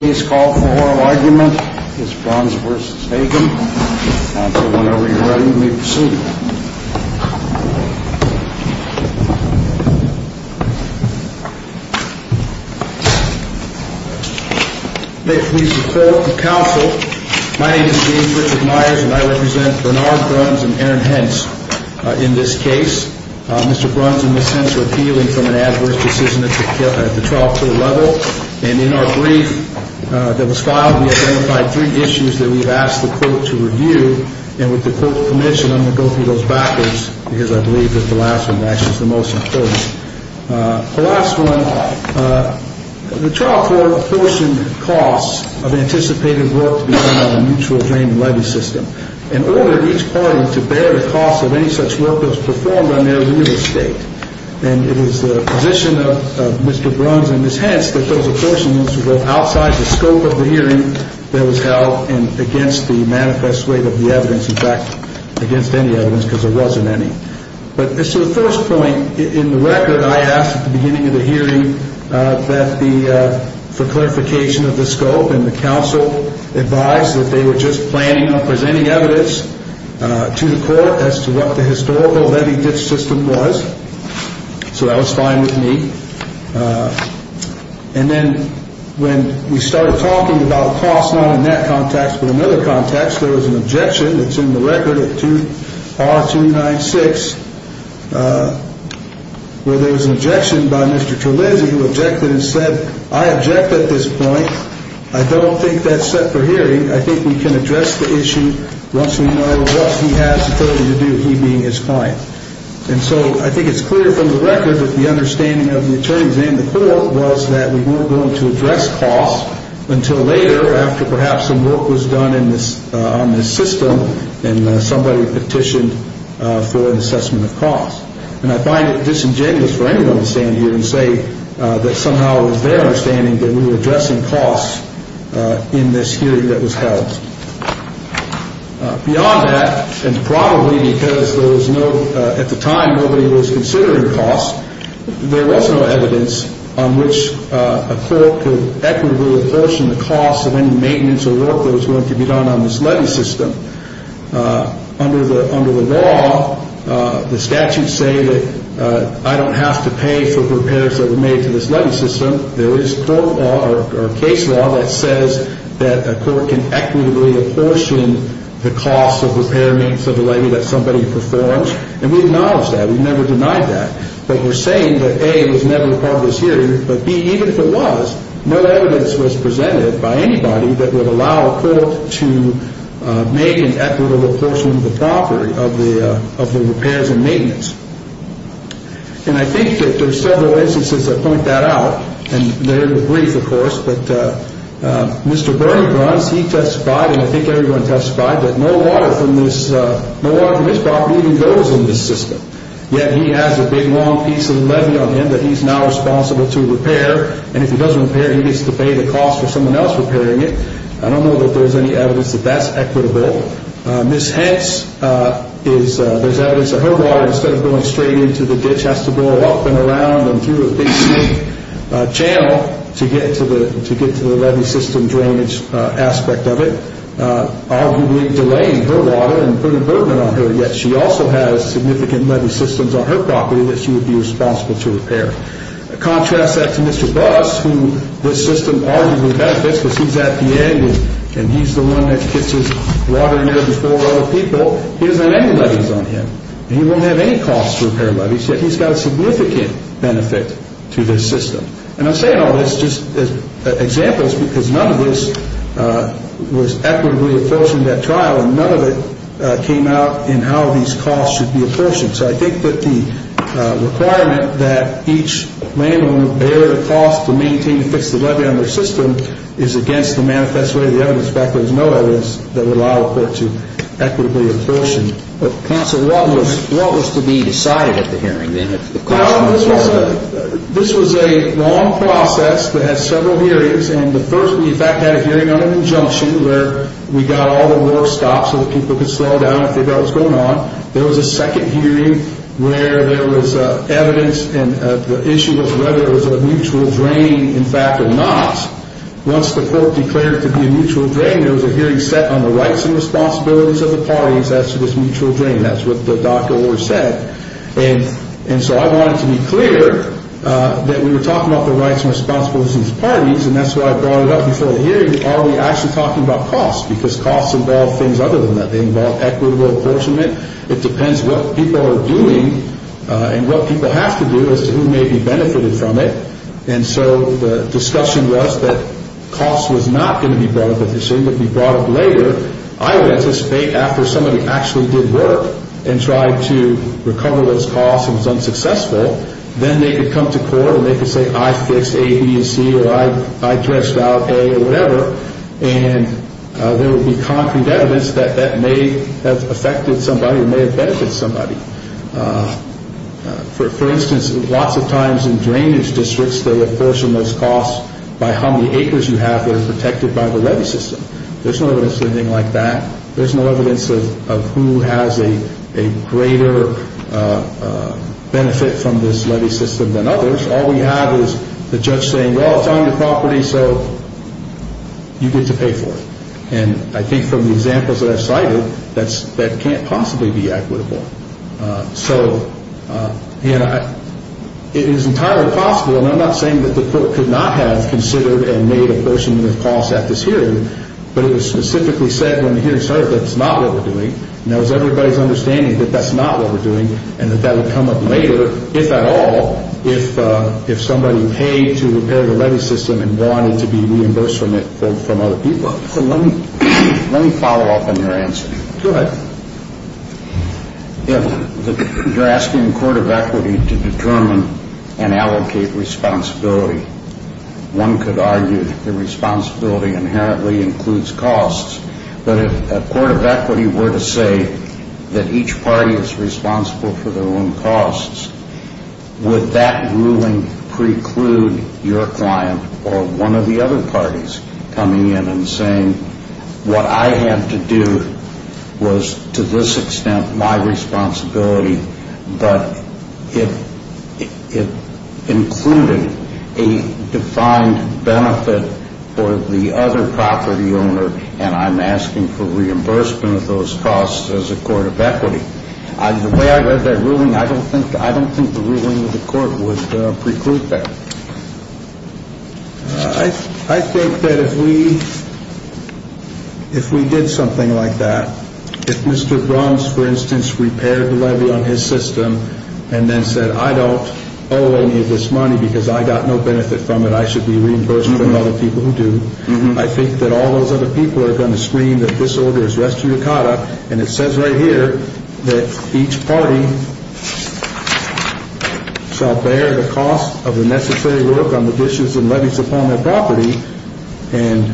Please call for oral argument. This is Bruns v. Hagen. Counsel, whenever you're ready, please proceed. May it please the court and counsel, my name is James Richard Myers and I represent Bernard Bruns and Aaron Hentz in this case. Mr. Bruns and Ms. Hentz are appealing from an adverse decision at the trial court level. And in our brief that was filed, we identified three issues that we've asked the court to review. And with the court's permission, I'm going to go through those backwards because I believe that the last one actually is the most important. The last one, the trial court apportioned costs of anticipated work to be done on a mutual claim and levy system. In order for each party to bear the costs of any such work that was performed on their real estate. And it was the position of Mr. Bruns and Ms. Hentz that those apportionments were outside the scope of the hearing that was held and against the manifest weight of the evidence, in fact, against any evidence because there wasn't any. But as to the first point, in the record, I asked at the beginning of the hearing for clarification of the scope and the counsel advised that they were just planning on presenting evidence to the court as to what the historical levy system was. So that was fine with me. And then when we started talking about costs, not in that context, but another context, there was an objection that's in the record at R296 where there was an objection by Mr. Trelinzi who objected and said, I object at this point. I don't think that's set for hearing. I think we can address the issue once we know what he has the authority to do, he being his client. And so I think it's clear from the record that the understanding of the attorneys and the court was that we weren't going to address costs until later after perhaps some work was done in this on this system and somebody petitioned for an assessment of costs. And I find it disingenuous for anyone to stand here and say that somehow it was their understanding that we were addressing costs in this hearing that was held. Beyond that, and probably because there was no, at the time nobody was considering costs, there was no evidence on which a court could equitably apportion the costs of any maintenance or work that was going to be done on this levy system. Under the law, the statutes say that I don't have to pay for repairs that were made to this levy system. There is court law or case law that says that a court can equitably apportion the costs of repairments of a levy that somebody performs. And we acknowledge that. We've never denied that. But we're saying that A, it was never part of this hearing, but B, even if it was, no evidence was presented by anybody that would allow a court to make an equitable apportionment of the property, of the repairs and maintenance. And I think that there's several instances that point that out, and they're brief, of course, but Mr. Bernie Bruns, he testified, and I think everyone testified, that no water from this property even goes in this system. Yet he has a big, long piece of the levy on him that he's now responsible to repair, and if he doesn't repair, he gets to pay the cost for someone else repairing it. I don't know that there's any evidence that that's equitable. Ms. Hentz, there's evidence that her water, instead of going straight into the ditch, has to go up and around and through a big, smooth channel to get to the levy system drainage aspect of it, arguably delaying her water and putting burden on her. Yet she also has significant levy systems on her property that she would be responsible to repair. Contrast that to Mr. Boss, who this system arguably benefits because he's at the end, and he's the one that gets his water in there before other people. He doesn't have any levies on him, and he won't have any cost to repair levies, yet he's got a significant benefit to this system. And I'm saying all this just as examples because none of this was equitably apportioned at trial, and none of it came out in how these costs should be apportioned. So I think that the requirement that each landowner bear the cost to maintain and fix the levy on their system is against the manifest way of the evidence. In fact, there's no evidence that would allow a court to equitably apportion. But counsel, what was to be decided at the hearing then? This was a long process that had several hearings, and the first we in fact had a hearing on an injunction where we got all the work stopped so that people could slow down and figure out what was going on. There was a second hearing where there was evidence, and the issue was whether it was a mutual drain, in fact, or not. Once the court declared it to be a mutual drain, there was a hearing set on the rights and responsibilities of the parties as to this mutual drain. That's what the DACA award said. And so I wanted to be clear that we were talking about the rights and responsibilities of these parties, and that's why I brought it up before the hearing. Are we actually talking about costs? Because costs involve things other than that. They involve equitable apportionment. It depends what people are doing, and what people have to do is who may be benefited from it. And so the discussion was that costs was not going to be brought up at this hearing. It would be brought up later. I would anticipate after somebody actually did work and tried to recover those costs and was unsuccessful, then they could come to court and they could say, I fixed A, B, and C, or I dredged out A or whatever, and there would be concrete evidence that that may have affected somebody or may have benefited somebody. For instance, lots of times in drainage districts, they apportion those costs by how many acres you have that are protected by the levy system. There's no evidence of anything like that. There's no evidence of who has a greater benefit from this levy system than others. All we have is the judge saying, well, it's on your property, so you get to pay for it. And I think from the examples that I've cited, that can't possibly be equitable. So it is entirely possible, and I'm not saying that the court could not have considered and made apportionment of costs at this hearing, but it was specifically said when the hearing started that that's not what we're doing, and that was everybody's understanding that that's not what we're doing, and that that would come up later, if at all, if somebody paid to repair the levy system and wanted to be reimbursed from it from other people. So let me follow up on your answer. Go ahead. You're asking the Court of Equity to determine and allocate responsibility. One could argue that the responsibility inherently includes costs, but if a court of equity were to say that each party is responsible for their own costs, would that ruling preclude your client or one of the other parties coming in and saying, what I had to do was to this extent my responsibility, but it included a defined benefit for the other property owner, and I'm asking for reimbursement of those costs as a court of equity. The way I read that ruling, I don't think the ruling of the court would preclude that. I think that if we did something like that, if Mr. Bruns, for instance, repaired the levy on his system and then said, I don't owe any of this money because I got no benefit from it, I should be reimbursed from other people who do, I think that all those other people are going to scream that this order is res judicata, and it says right here that each party shall bear the cost of the necessary work on the dishes and levies upon their property, and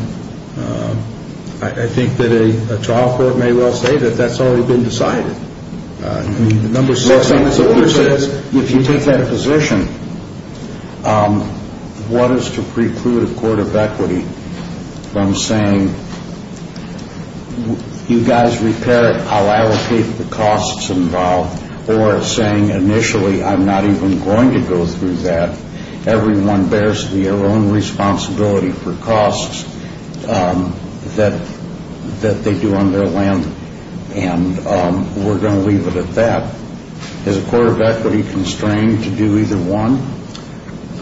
I think that a trial court may well say that that's already been decided. The number six on this order says if you take that position, what is to preclude a court of equity from saying, you guys repair it, I'll allocate the costs involved, or saying initially I'm not even going to go through that, everyone bears their own responsibility for costs that they do on their land, and we're going to leave it at that. Is a court of equity constrained to do either one?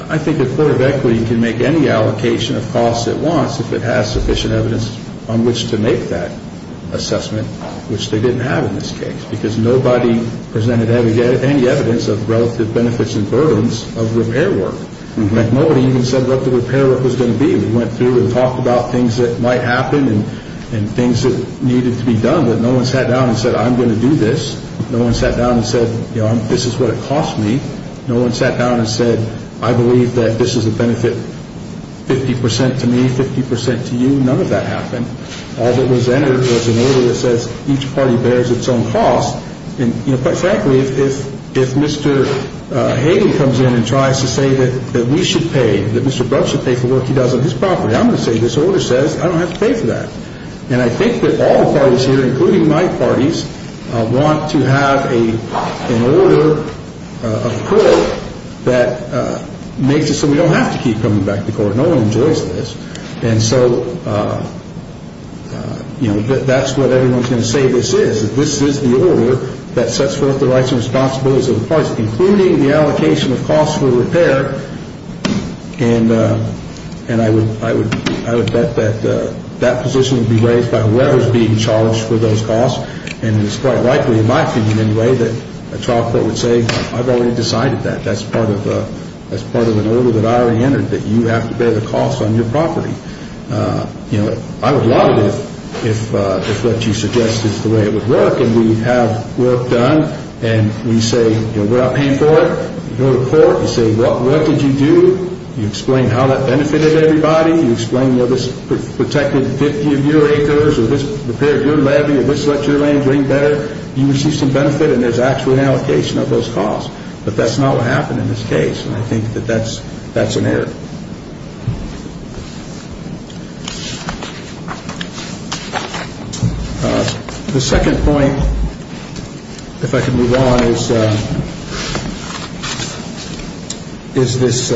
I think a court of equity can make any allocation of costs it wants if it has sufficient evidence on which to make that assessment, which they didn't have in this case, because nobody presented any evidence of relative benefits and burdens of repair work. Nobody even said what the repair work was going to be. We went through and talked about things that might happen and things that needed to be done, but no one sat down and said I'm going to do this. No one sat down and said this is what it costs me. No one sat down and said I believe that this is a benefit 50% to me, 50% to you. None of that happened. All that was entered was an order that says each party bears its own cost, and frankly, if Mr. Hayden comes in and tries to say that we should pay, that Mr. Bruch should pay for work he does on his property, I'm going to say this order says I don't have to pay for that. And I think that all the parties here, including my parties, want to have an order of the court that makes it so we don't have to keep coming back to court. No one enjoys this. And so that's what everyone is going to say this is, that this is the order that sets forth the rights and responsibilities of the parties, including the allocation of costs for repair, and I would bet that that position would be raised by whoever is being charged for those costs, and it's quite likely, in my opinion anyway, that a trial court would say I've already decided that. That's part of an order that I already entered, that you have to bear the cost on your property. I would love it if what you suggest is the way it would work, and we have work done, and we say we're not paying for it. You go to court, you say what work did you do? You explain how that benefited everybody. You explain this protected 50 of your acres, or this repaired your levee, or this let your land drain better. You receive some benefit, and there's actually an allocation of those costs. But that's not what happened in this case, and I think that that's an error. The second point, if I can move on, is this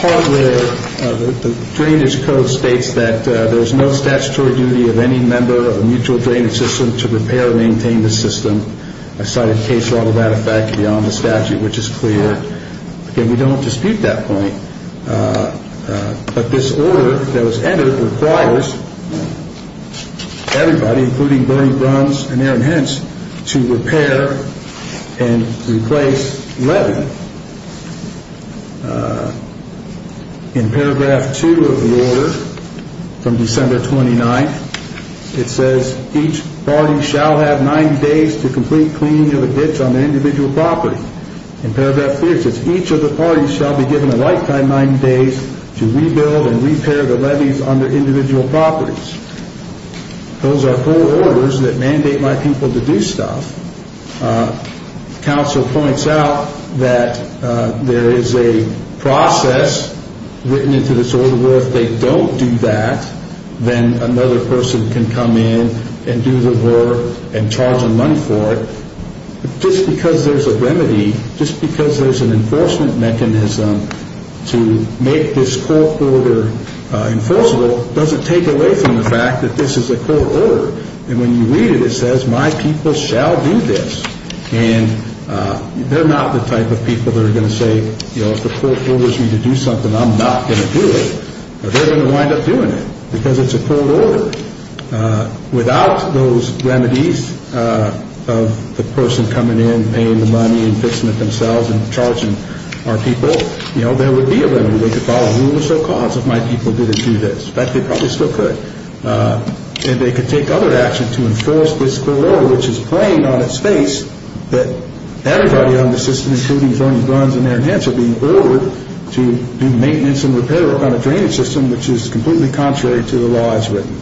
part where the drainage code states that there's no statutory duty of any member of a mutual drainage system to repair or maintain the system. I cited case law to that effect beyond the statute, which is clear. Again, we don't dispute that point, but this order that was entered requires everybody, including Bernie Bruns and Aaron Hentz, to repair and replace levee. In paragraph two of the order from December 29th, it says each party shall have 90 days to complete cleaning of a ditch on their individual property. In paragraph three it says each of the parties shall be given a lifetime 90 days to rebuild and repair the levees on their individual properties. Those are full orders that mandate my people to do stuff. Council points out that there is a process written into this order where if they don't do that, then another person can come in and do the work and charge them money for it. Just because there's a remedy, just because there's an enforcement mechanism to make this court order enforceable doesn't take away from the fact that this is a court order. And when you read it, it says my people shall do this. And they're not the type of people that are going to say, you know, if the court orders me to do something, I'm not going to do it. They're going to wind up doing it because it's a court order. Without those remedies of the person coming in and paying the money and fixing it themselves and charging our people, you know, there would be a remedy. They could file a rule or so cause if my people didn't do this. In fact, they probably still could. And they could take other action to enforce this court order, which is plain on its face that everybody on the system, including Zonnie Bruns and Erin Hantzell, be ordered to do maintenance and repair on a drainage system, which is completely contrary to the law as written.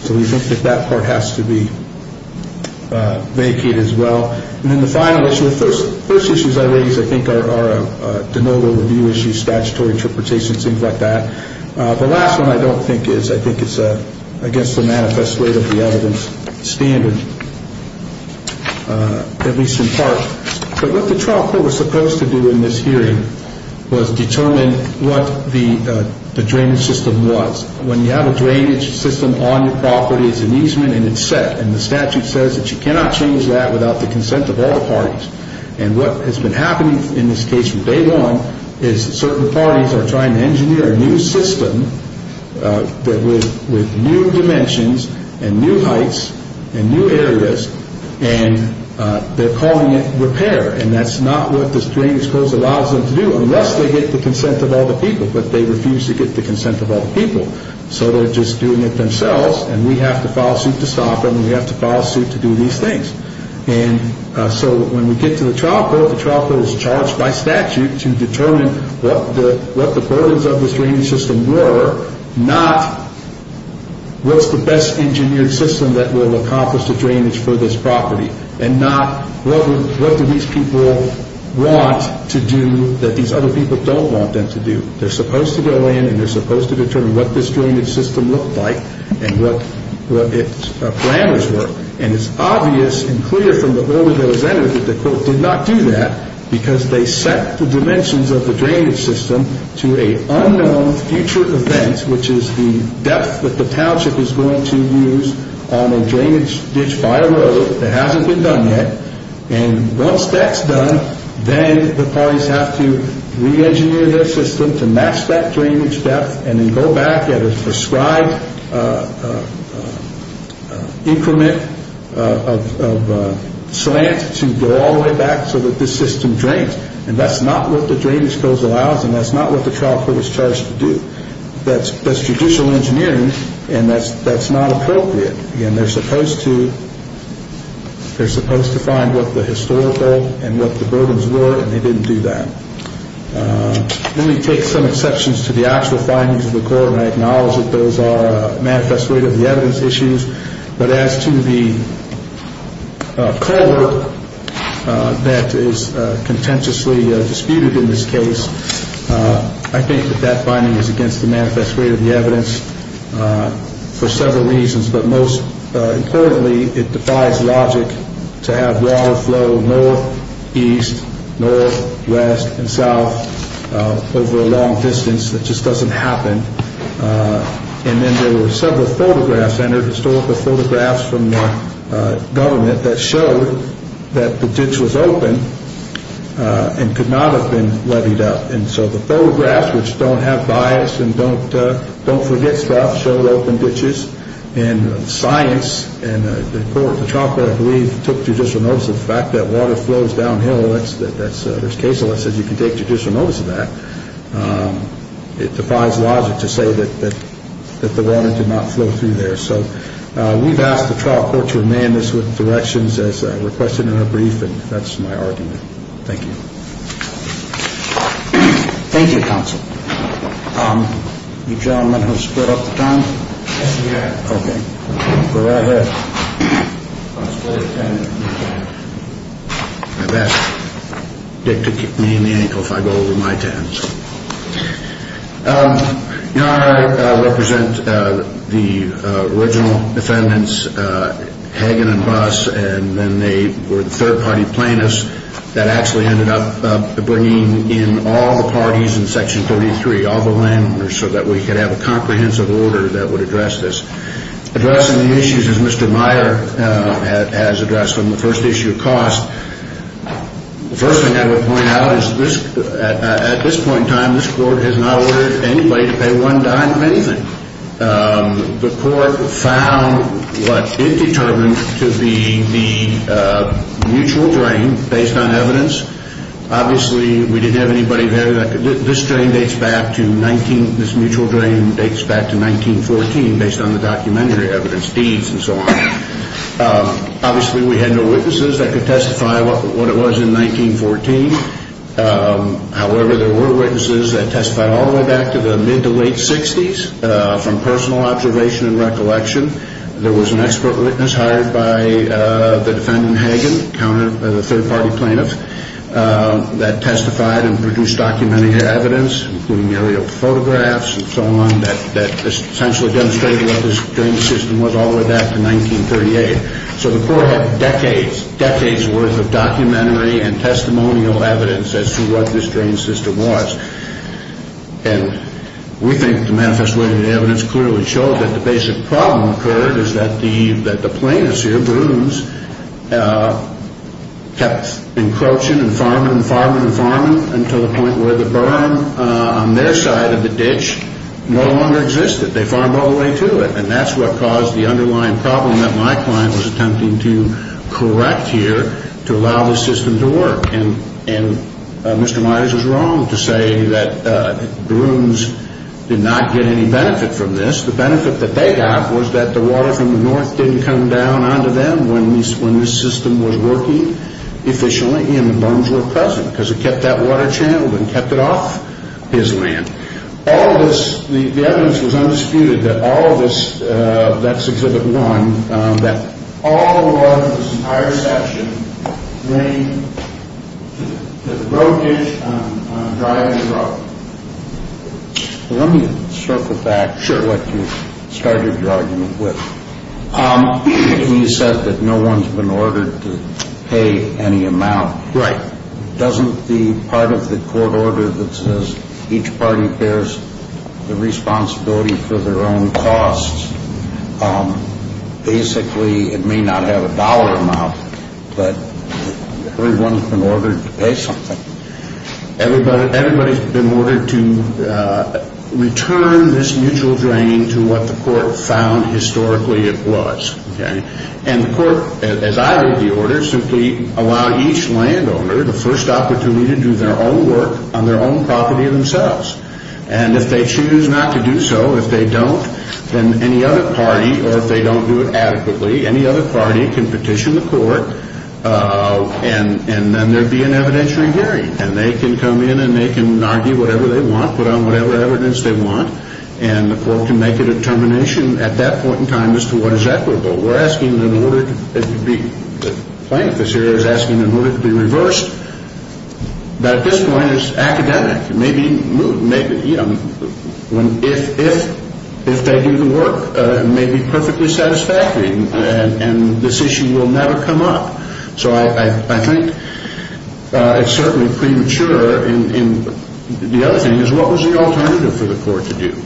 So we think that that part has to be vacated as well. And then the final issue, the first issues I raised, I think, are a denotable review issue, statutory interpretation, things like that. The last one I don't think is. I think it's against the manifest way of the evidence standard, at least in part. But what the trial court was supposed to do in this hearing was determine what the drainage system was. When you have a drainage system on your property, it's an easement and it's set. And the statute says that you cannot change that without the consent of all the parties. And what has been happening in this case from day one is that certain parties are trying to engineer a new system with new dimensions and new heights and new areas, and they're calling it repair. And that's not what the drainage codes allows them to do, unless they get the consent of all the people. But they refuse to get the consent of all the people. So they're just doing it themselves, and we have to file suit to stop them, and we have to file suit to do these things. And so when we get to the trial court, the trial court is charged by statute to determine what the burdens of this drainage system were, not what's the best engineered system that will accomplish the drainage for this property, and not what do these people want to do that these other people don't want them to do. They're supposed to go in and they're supposed to determine what this drainage system looked like and what its planners were. And it's obvious and clear from the order that was entered that the court did not do that because they set the dimensions of the drainage system to a unknown future event, which is the depth that the township is going to use on a drainage ditch by a road that hasn't been done yet. And once that's done, then the parties have to re-engineer their system to match that drainage depth and then go back at a prescribed increment of slant to go all the way back so that this system drains. And that's not what the drainage codes allows, and that's not what the trial court is charged to do. That's judicial engineering, and that's not appropriate. Again, they're supposed to find what the historical and what the burdens were, and they didn't do that. Let me take some exceptions to the actual findings of the court, and I acknowledge that those are manifest rate of the evidence issues. But as to the court that is contentiously disputed in this case, I think that that finding is against the manifest rate of the evidence for several reasons. But most importantly, it defies logic to have water flow north, east, north, west, and south over a long distance. That just doesn't happen. And then there were several photographs entered, historical photographs from the government that showed that the ditch was open and could not have been levied up. And so the photographs, which don't have bias and don't forget stuff, showed open ditches. And science and the court, the trial court, I believe, took judicial notice of the fact that water flows downhill. There's case law that says you can take judicial notice of that. It defies logic to say that the water did not flow through there. So we've asked the trial court to remand us with directions as requested in our brief, and that's my argument. Thank you. Thank you, counsel. You gentlemen have split up the time? Yes, we have. Okay. Go right ahead. I'll split it at 10 and then you can. I bet Dick could kick me in the ankle if I go over my 10s. You know, I represent the original defendants, Hagan and Buss, and then they were the third-party plaintiffs that actually ended up bringing in all the parties in Section 33, all the landowners, so that we could have a comprehensive order that would address this. Addressing the issues, as Mr. Meyer has addressed them, the first issue of cost, the first thing I would point out is at this point in time this court has not ordered anybody to pay one dime of anything. The court found what it determined to be the mutual drain based on evidence. Obviously, we didn't have anybody there that could. This drain dates back to 19, this mutual drain dates back to 1914 based on the documentary evidence, deeds and so on. Obviously, we had no witnesses that could testify what it was in 1914. However, there were witnesses that testified all the way back to the mid to late 60s from personal observation and recollection. There was an expert witness hired by the defendant, Hagan, the third-party plaintiff, that testified and produced documentary evidence, including aerial photographs and so on, that essentially demonstrated what this drain system was all the way back to 1938. So the court had decades, decades worth of documentary and testimonial evidence as to what this drain system was. And we think the manifested evidence clearly showed that the basic problem occurred is that the plaintiffs here, Brooms, kept encroaching and farming and farming and farming until the point where the burn on their side of the ditch no longer existed. They farmed all the way to it. And that's what caused the underlying problem that my client was attempting to correct here to allow the system to work. And Mr. Myers was wrong to say that Brooms did not get any benefit from this. The benefit that they got was that the water from the north didn't come down onto them when this system was working efficiently and the burns were present because it kept that water channeled and kept it off his land. All of this, the evidence was undisputed that all of this, that's exhibit one, that all of this entire section ran to the road ditch on a driving road. Let me circle back to what you started your argument with. You said that no one's been ordered to pay any amount. Right. Doesn't the part of the court order that says each party bears the responsibility for their own costs, basically it may not have a dollar amount, but everyone's been ordered to pay something. Everybody's been ordered to return this mutual drain to what the court found historically it was. And the court, as I read the order, simply allow each landowner the first opportunity to do their own work on their own property themselves. And if they choose not to do so, if they don't, then any other party, or if they don't do it adequately, any other party can petition the court and then there'd be an evidentiary hearing. And they can come in and they can argue whatever they want, put on whatever evidence they want, and the court can make a determination at that point in time as to what is equitable. We're asking in order to be, the plaintiff is asking in order to be reversed. But at this point it's academic. Maybe, you know, if they do the work, it may be perfectly satisfactory and this issue will never come up. So I think it's certainly premature. And the other thing is what was the alternative for the court to do?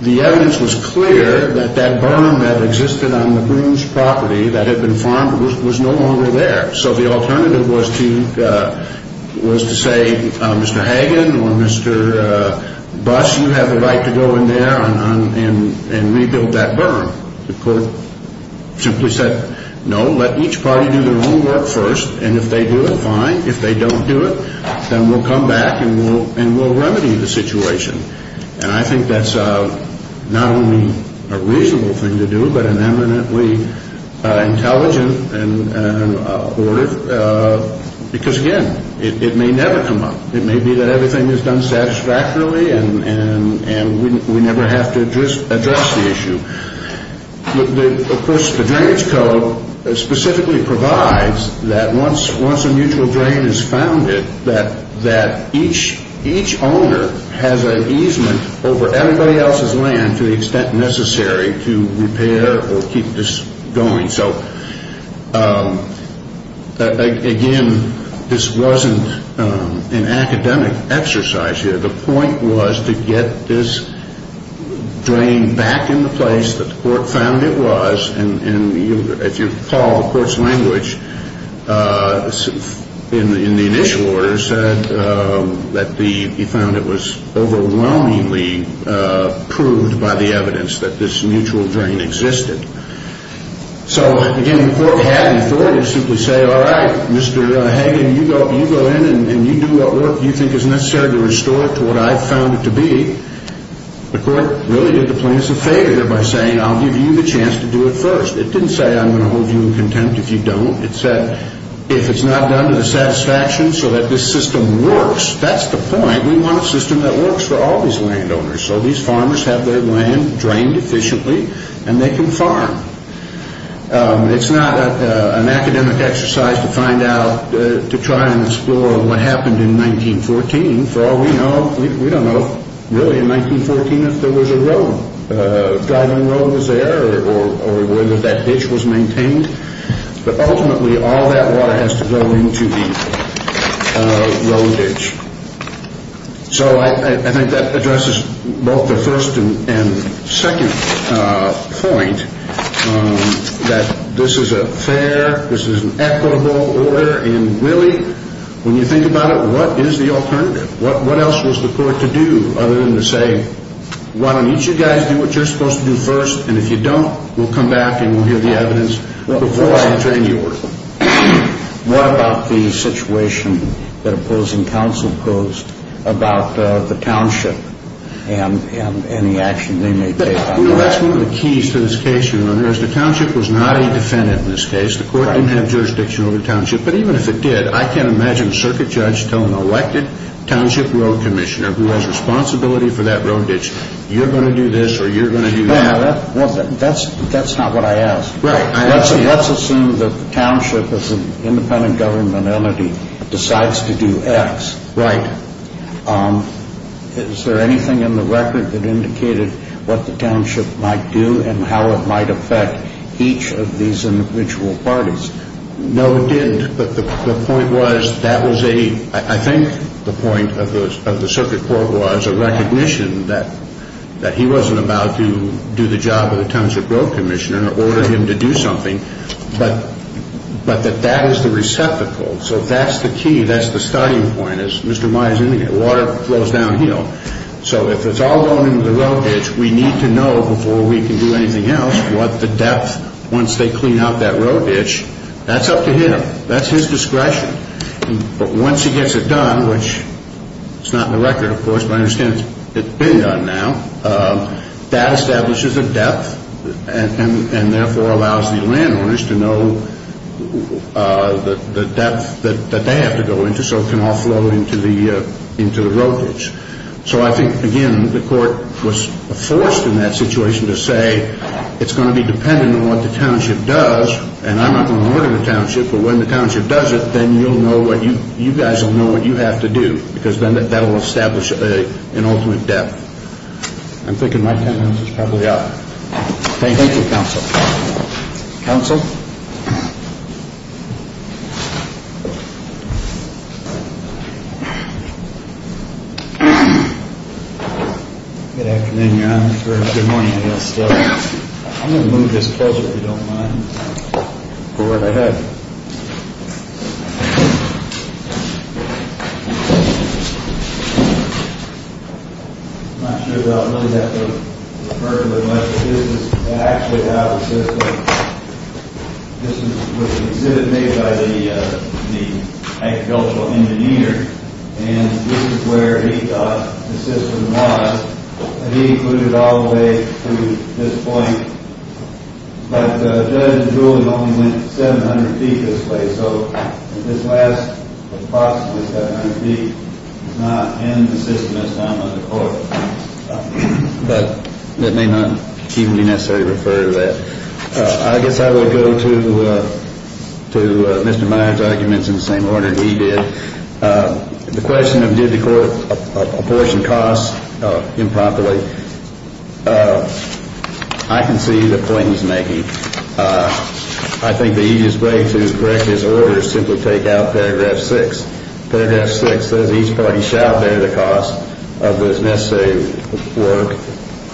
The evidence was clear that that barn that existed on the Boone's property that had been farmed was no longer there. So the alternative was to say, Mr. Hagan or Mr. Buss, you have the right to go in there and rebuild that barn. The court simply said, no, let each party do their own work first. And if they do it, fine. If they don't do it, then we'll come back and we'll remedy the situation. And I think that's not only a reasonable thing to do, but an eminently intelligent and abortive, because, again, it may never come up. It may be that everything is done satisfactorily and we never have to address the issue. Of course, the drainage code specifically provides that once a mutual drain is founded, that each owner has an easement over everybody else's land to the extent necessary to repair or keep this going. So, again, this wasn't an academic exercise here. The point was to get this drain back into place that the court found it was. And if you recall the court's language in the initial order said that he found it was overwhelmingly proved by the evidence that this mutual drain existed. So, again, the court had the authority to simply say, all right, Mr. Hagan, you go in and you do what work you think is necessary to restore it to what I found it to be. The court really did the plaintiffs a favor here by saying I'll give you the chance to do it first. It didn't say I'm going to hold you in contempt if you don't. It said if it's not done to the satisfaction so that this system works, that's the point. We want a system that works for all these landowners. So these farmers have their land drained efficiently and they can farm. It's not an academic exercise to find out, to try and explore what happened in 1914. For all we know, we don't know really in 1914 if there was a road, a driving road was there or whether that ditch was maintained. But ultimately all that water has to go into the road ditch. So I think that addresses both the first and second point that this is a fair, this is an equitable order. And really, when you think about it, what is the alternative? What else was the court to do other than to say, why don't each of you guys do what you're supposed to do first? And if you don't, we'll come back and we'll hear the evidence before I drain the order. What about the situation that opposing counsel posed about the township and the action they made based on that? That's one of the keys to this case, Your Honor, is the township was not a defendant in this case. The court didn't have jurisdiction over the township. But even if it did, I can't imagine a circuit judge telling an elected township road commissioner who has responsibility for that road ditch, you're going to do this or you're going to do that. That's not what I asked. Right. Let's assume that the township as an independent government entity decides to do X. Right. Is there anything in the record that indicated what the township might do and how it might affect each of these individual parties? No, it didn't. But the point was that was a, I think the point of the circuit court was a recognition that he wasn't about to do the job of the township road commissioner or order him to do something, but that that is the receptacle. So that's the key. That's the starting point. As Mr. Meyer is indicating, water flows downhill. So if it's all going into the road ditch, we need to know before we can do anything else what the depth, once they clean out that road ditch, that's up to him. That's his discretion. But once he gets it done, which it's not in the record, of course, but I understand it's been done now, that establishes a depth and therefore allows the landowners to know the depth that they have to go into so it can all flow into the road ditch. So I think, again, the court was forced in that situation to say it's going to be dependent on what the township does. And I'm not going to order the township, but when the township does it, then you'll know what you guys will know what you have to do because then that will establish an ultimate depth. I'm thinking my ten minutes is probably up. Thank you, Counsel. Counsel? Good afternoon, Your Honor. Good morning, I guess. I'm going to move this closer if you don't mind. Go right ahead. I'm not sure if I'll really have to refer to it much, but this is actually how the system, this was an exhibit made by the agricultural engineer and this is where he thought the system was. He included all the way to this point. But Judge Jules only went 700 feet this way, so this last approximately 700 feet is not in the system as found by the court. But that may not even be necessary to refer to that. I guess I would go to Mr. Meyer's arguments in the same order he did. The question of did the court apportion costs improperly, I can see the point he's making. I think the easiest way to correct his order is simply take out paragraph 6. Paragraph 6 says each party shall bear the cost of the necessary work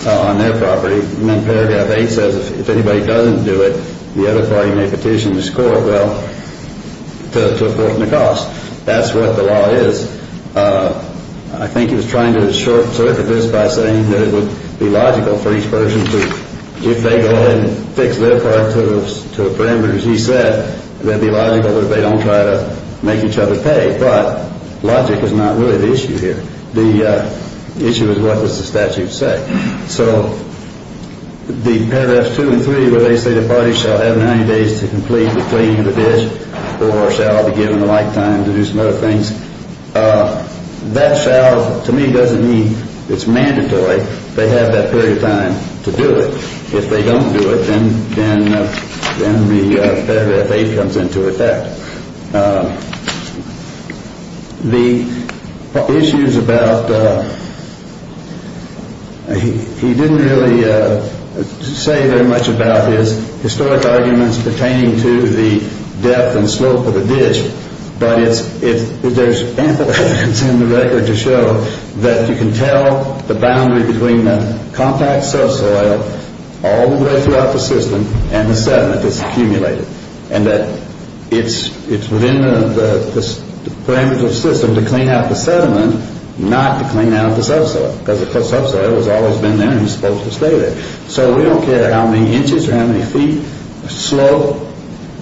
on their property. And then paragraph 8 says if anybody doesn't do it, the other party may petition this court to apportion the cost. That's what the law is. I think he was trying to short-circuit this by saying that it would be logical for each person to, if they go ahead and fix their part to the parameters he said, it would be logical that they don't try to make each other pay. But logic is not really the issue here. The issue is what does the statute say. So the paragraphs 2 and 3 where they say the party shall have 90 days to complete the cleaning of the ditch or shall be given the like time to do some other things, that shall to me doesn't mean it's mandatory. They have that period of time to do it. If they don't do it, then the paragraph 8 comes into effect. The issues about, he didn't really say very much about his historic arguments pertaining to the depth and slope of the ditch, but there's ample evidence in the record to show that you can tell the boundary between the compact subsoil all the way throughout the system and the sediment that's accumulated and that it's within the parameters of the system to clean out the sediment, not to clean out the subsoil because the subsoil has always been there and is supposed to stay there. So we don't care how many inches or how many feet, slope,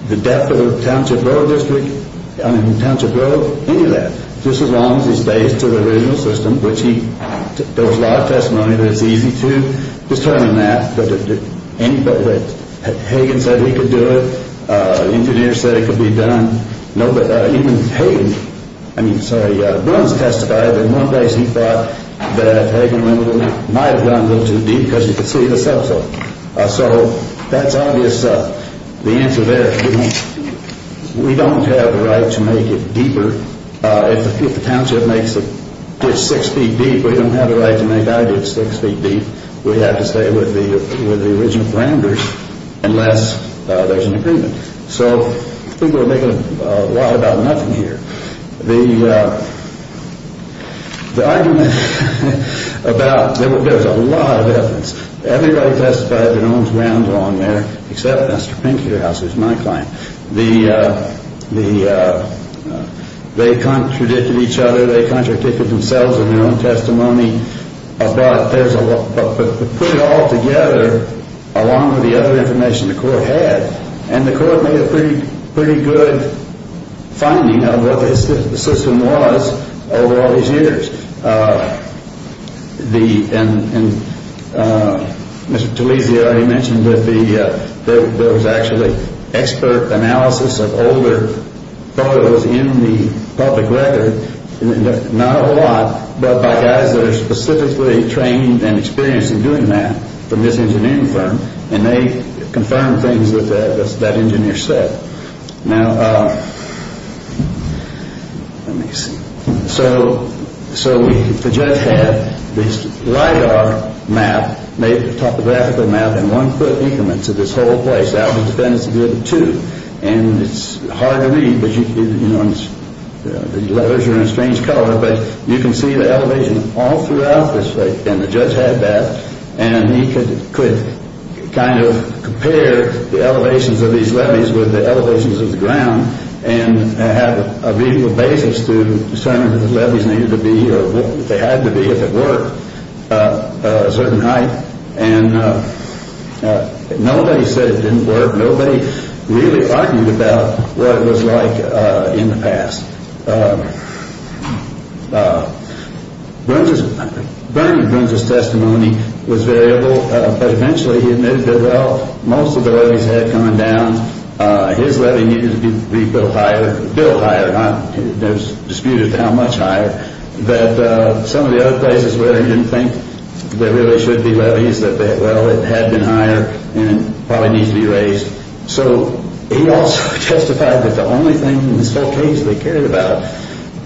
the depth of the Township Road District, I mean Township Road, any of that, just as long as it stays to the original system, which there was a lot of testimony that it's easy to determine that, Hagan said he could do it, engineers said it could be done. Even Hagan, I mean sorry, Burns testified that in one place he thought that Hagan might have gone a little too deep because he could see the subsoil. So that's obvious, the answer there, we don't have the right to make it deeper. If the Township makes the ditch six feet deep, we don't have the right to make our ditch six feet deep. We have to stay with the original parameters unless there's an agreement. So people are making a lot about nothing here. The argument about, there was a lot of evidence, everybody testified their own grounds on there, except Mr. Pink here, who's my client. They contradicted each other, they contradicted themselves in their own testimony, but put it all together along with the other information the court had, and the court made a pretty good finding of what the system was over all these years. Mr. Talese already mentioned that there was actually expert analysis of older photos in the public record, not a lot, but by guys that are specifically trained and experienced in doing that from this engineering firm, and they confirmed things that that engineer said. Now, let me see, so the judge had this LiDAR map, made a topographical map in one foot increments of this whole place, and it's hard to read, the letters are in a strange color, but you can see the elevation all throughout this place, and the judge had that, and he could kind of compare the elevations of these levees with the elevations of the ground, and have a reasonable basis to determine if the levees needed to be, or they had to be if it were, a certain height. And nobody said it didn't work, nobody really argued about what it was like in the past. Bernie Brunza's testimony was variable, but eventually he admitted that, well, most of the levees had come down, his levee needed to be a little higher, a little higher, not disputed how much higher, that some of the other places where he didn't think there really should be levees, that, well, it had been higher, and it probably needs to be raised. So he also testified that the only thing in this whole case they cared about,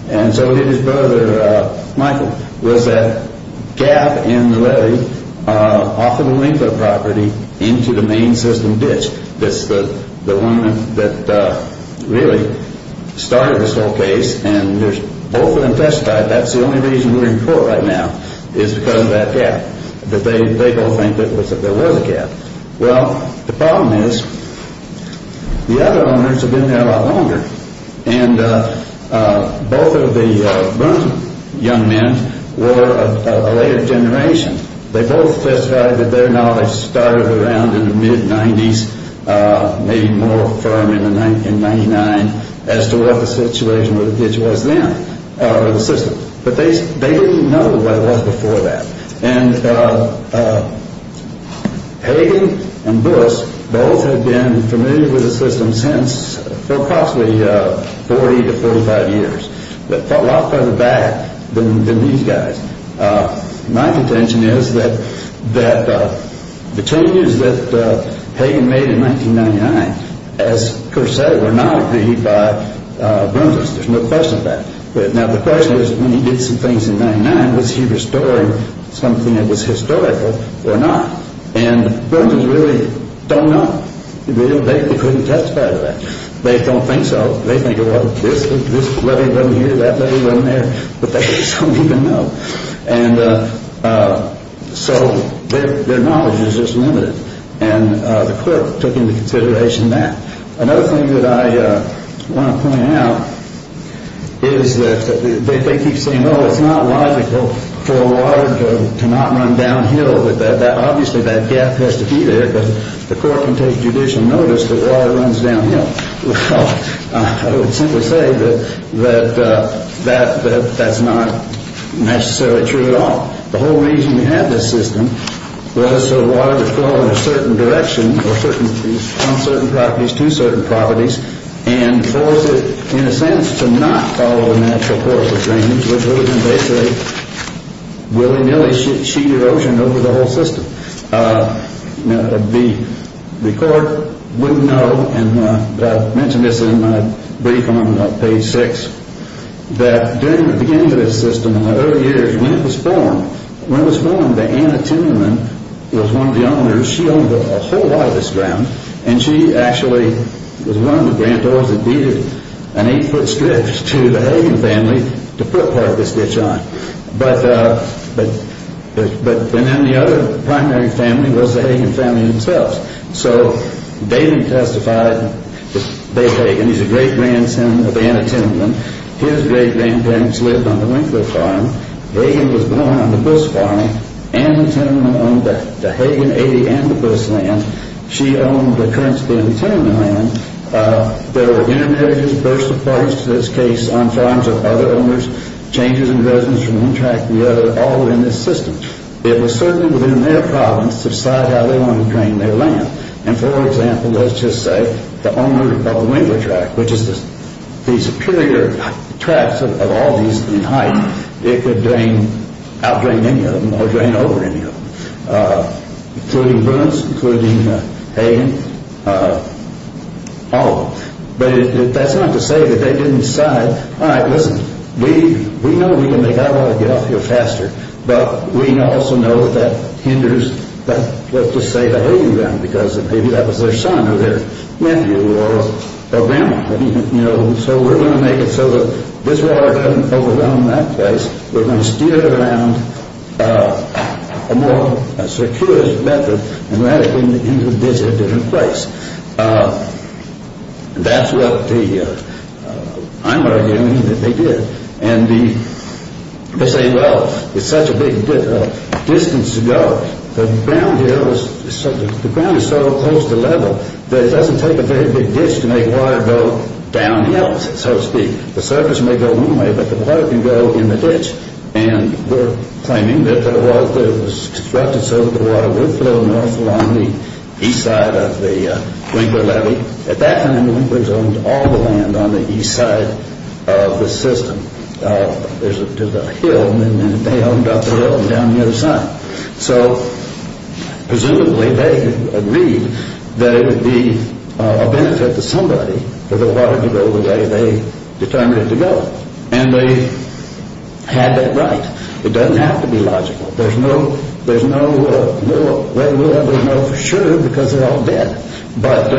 and so did his brother, Michael, was that gap in the levee off of the landfill property into the main system ditch, that's the one that really started this whole case, and both of them testified that's the only reason we're in court right now, is because of that gap, that they don't think that there was a gap. Well, the problem is, the other owners have been there a lot longer, and both of the Brunza young men were a later generation. They both testified that their knowledge started around in the mid-90s, maybe more firm in 1999, as to what the situation with the ditch was then, or the system, but they didn't know what it was before that, and Hagen and Buss both had been familiar with the system since, approximately 40 to 45 years, but a lot further back than these guys. My contention is that the changes that Hagen made in 1999, as Kerr said, were not agreed by Brunza. There's no question of that. Now, the question is, when he did some things in 1999, was he restoring something that was historical or not? And Brunza's really don't know. They couldn't testify to that. They don't think so. They think, well, this levee wasn't here, that levee wasn't there, but they just don't even know, and so their knowledge is just limited, and the court took into consideration that. Another thing that I want to point out is that they keep saying, oh, it's not logical for a water to not run downhill. Obviously, that gap has to be there, but the court can take judicial notice that water runs downhill. Well, I would simply say that that's not necessarily true at all. The whole reason we had this system was so water would flow in a certain direction or on certain properties to certain properties and force it, in a sense, to not follow the natural course of drainage, which would have been basically willy-nilly sheet erosion over the whole system. The court wouldn't know, and I mentioned this in my brief on page 6, that during the beginning of this system, in the early years, when it was formed, when it was formed, the Anna Timmerman was one of the owners. She owned a whole lot of this ground, and she actually was one of the granddaughters that deeded an eight-foot strip to the Hagen family to put part of this ditch on. But then the other primary family was the Hagen family themselves. So David testified that Dave Hagen, he's a great-grandson of Anna Timmerman. His great-grandparents lived on the Winkler farm. Hagen was born on the Busch farm. Anna Timmerman owned the Hagen 80 and the Busch land. She owned the current-span Timmerman land. There were intermarriages, burst of parties to this case, on farms of other owners, changes in residence from one tract to the other, all within this system. It was certainly within their province to decide how they wanted to drain their land. And, for example, let's just say the owner of the Winkler tract, which is the superior tract of all these in height, it could drain, outdrain any of them or drain over any of them, including Bruns, including Hagen, all of them. But that's not to say that they didn't decide, all right, listen, we know we can make our water get off here faster, but we also know that hinders, let's just say, the Hagen family because maybe that was their son or their nephew or grandma. So we're going to make it so that this water doesn't overrun that place. We're going to steer it around a more circuitous method into a different place. That's what I'm arguing that they did. And they say, well, it's such a big distance to go. The ground is so close to level that it doesn't take a very big ditch to make water go downhill, so to speak. The surface may go one way, but the water can go in the ditch. And we're claiming that it was constructed so that the water would flow north along the east side of the Winkler levee. At that time, the Winklers owned all the land on the east side of the system. There's a hill, and they owned up the hill and down the other side. So presumably they agreed that it would be a benefit to somebody for the water to go the way they determined it to go. And they had that right. It doesn't have to be logical. There's no way we'll ever know for sure because they're all dead. But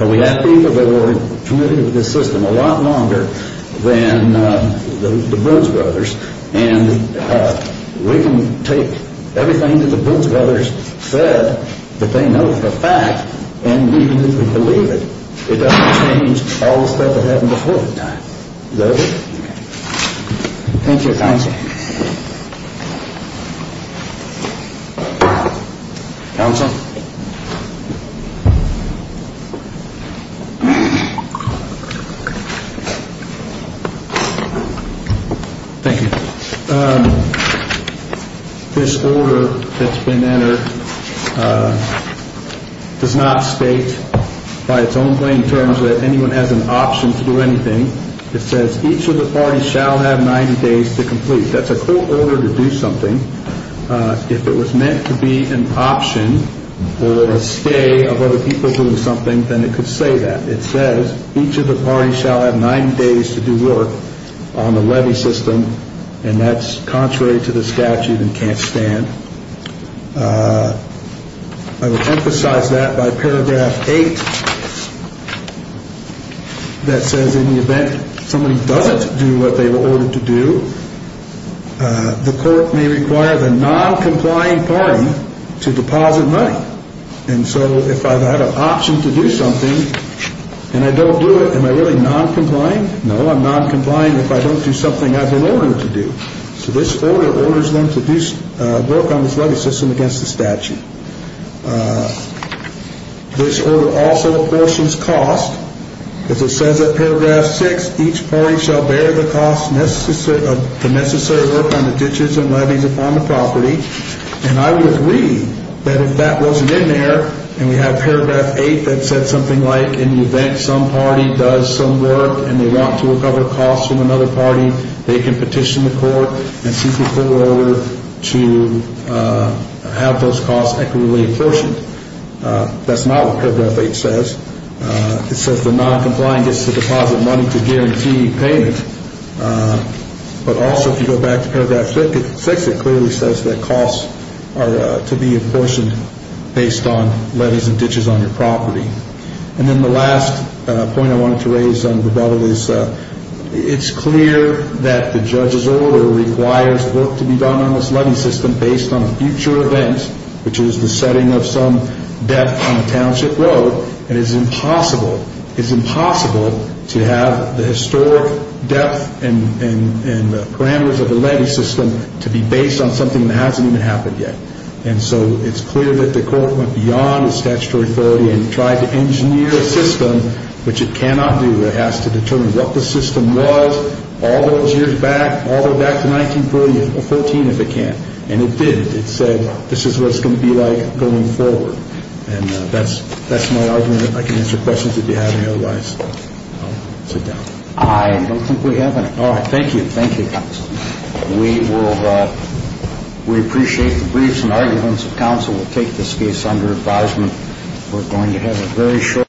we have people that were committed to this system a lot longer than the Brunsbrothers. And we can take everything that the Brunsbrothers said that they know for a fact and we believe it. It doesn't change all the stuff that happened before that time. Is that it? Okay. Thank you, Counsel. Counsel? Thank you. This order that's been entered does not state by its own plain terms that anyone has an option to do anything. It says each of the parties shall have 90 days to complete. That's a court order to do something. If it was meant to be an option or a stay of other people doing something, then it could say that. It says each of the parties shall have 90 days to do work on the levy system, and that's contrary to the statute and can't stand. I would emphasize that by paragraph 8 that says in the event somebody doesn't do what they were ordered to do, the court may require the noncompliant party to deposit money. And so if I've had an option to do something and I don't do it, am I really noncompliant? No, I'm noncompliant if I don't do something I've been ordered to do. So this order orders them to do work on this levy system against the statute. This order also apportions cost. As it says in paragraph 6, each party shall bear the necessary work on the ditches and levies upon the property. And I would agree that if that wasn't in there, and we have paragraph 8 that said something like in the event some party does some work and they want to recover costs from another party, they can petition the court and seek a court order to have those costs equitably apportioned. That's not what paragraph 8 says. It says the noncompliant gets to deposit money to guarantee payment. But also if you go back to paragraph 6, it clearly says that costs are to be apportioned based on levies and ditches on your property. And then the last point I wanted to raise on rebuttal is it's clear that the judge's order requires work to be done on this levy system based on a future event, which is the setting of some debt on a township road, and it's impossible to have the historic depth and parameters of the levy system to be based on something that hasn't even happened yet. And so it's clear that the court went beyond its statutory authority and tried to engineer a system which it cannot do. It has to determine what the system was all those years back, all the way back to 1914 if it can. And it didn't. It said this is what it's going to be like going forward. And that's my argument. If I can answer questions that you have, otherwise I'll sit down. I don't think we have any. All right. Thank you. Thank you, counsel. We appreciate the briefs and arguments of counsel. We'll take this case under advisement. We're going to have a very short break.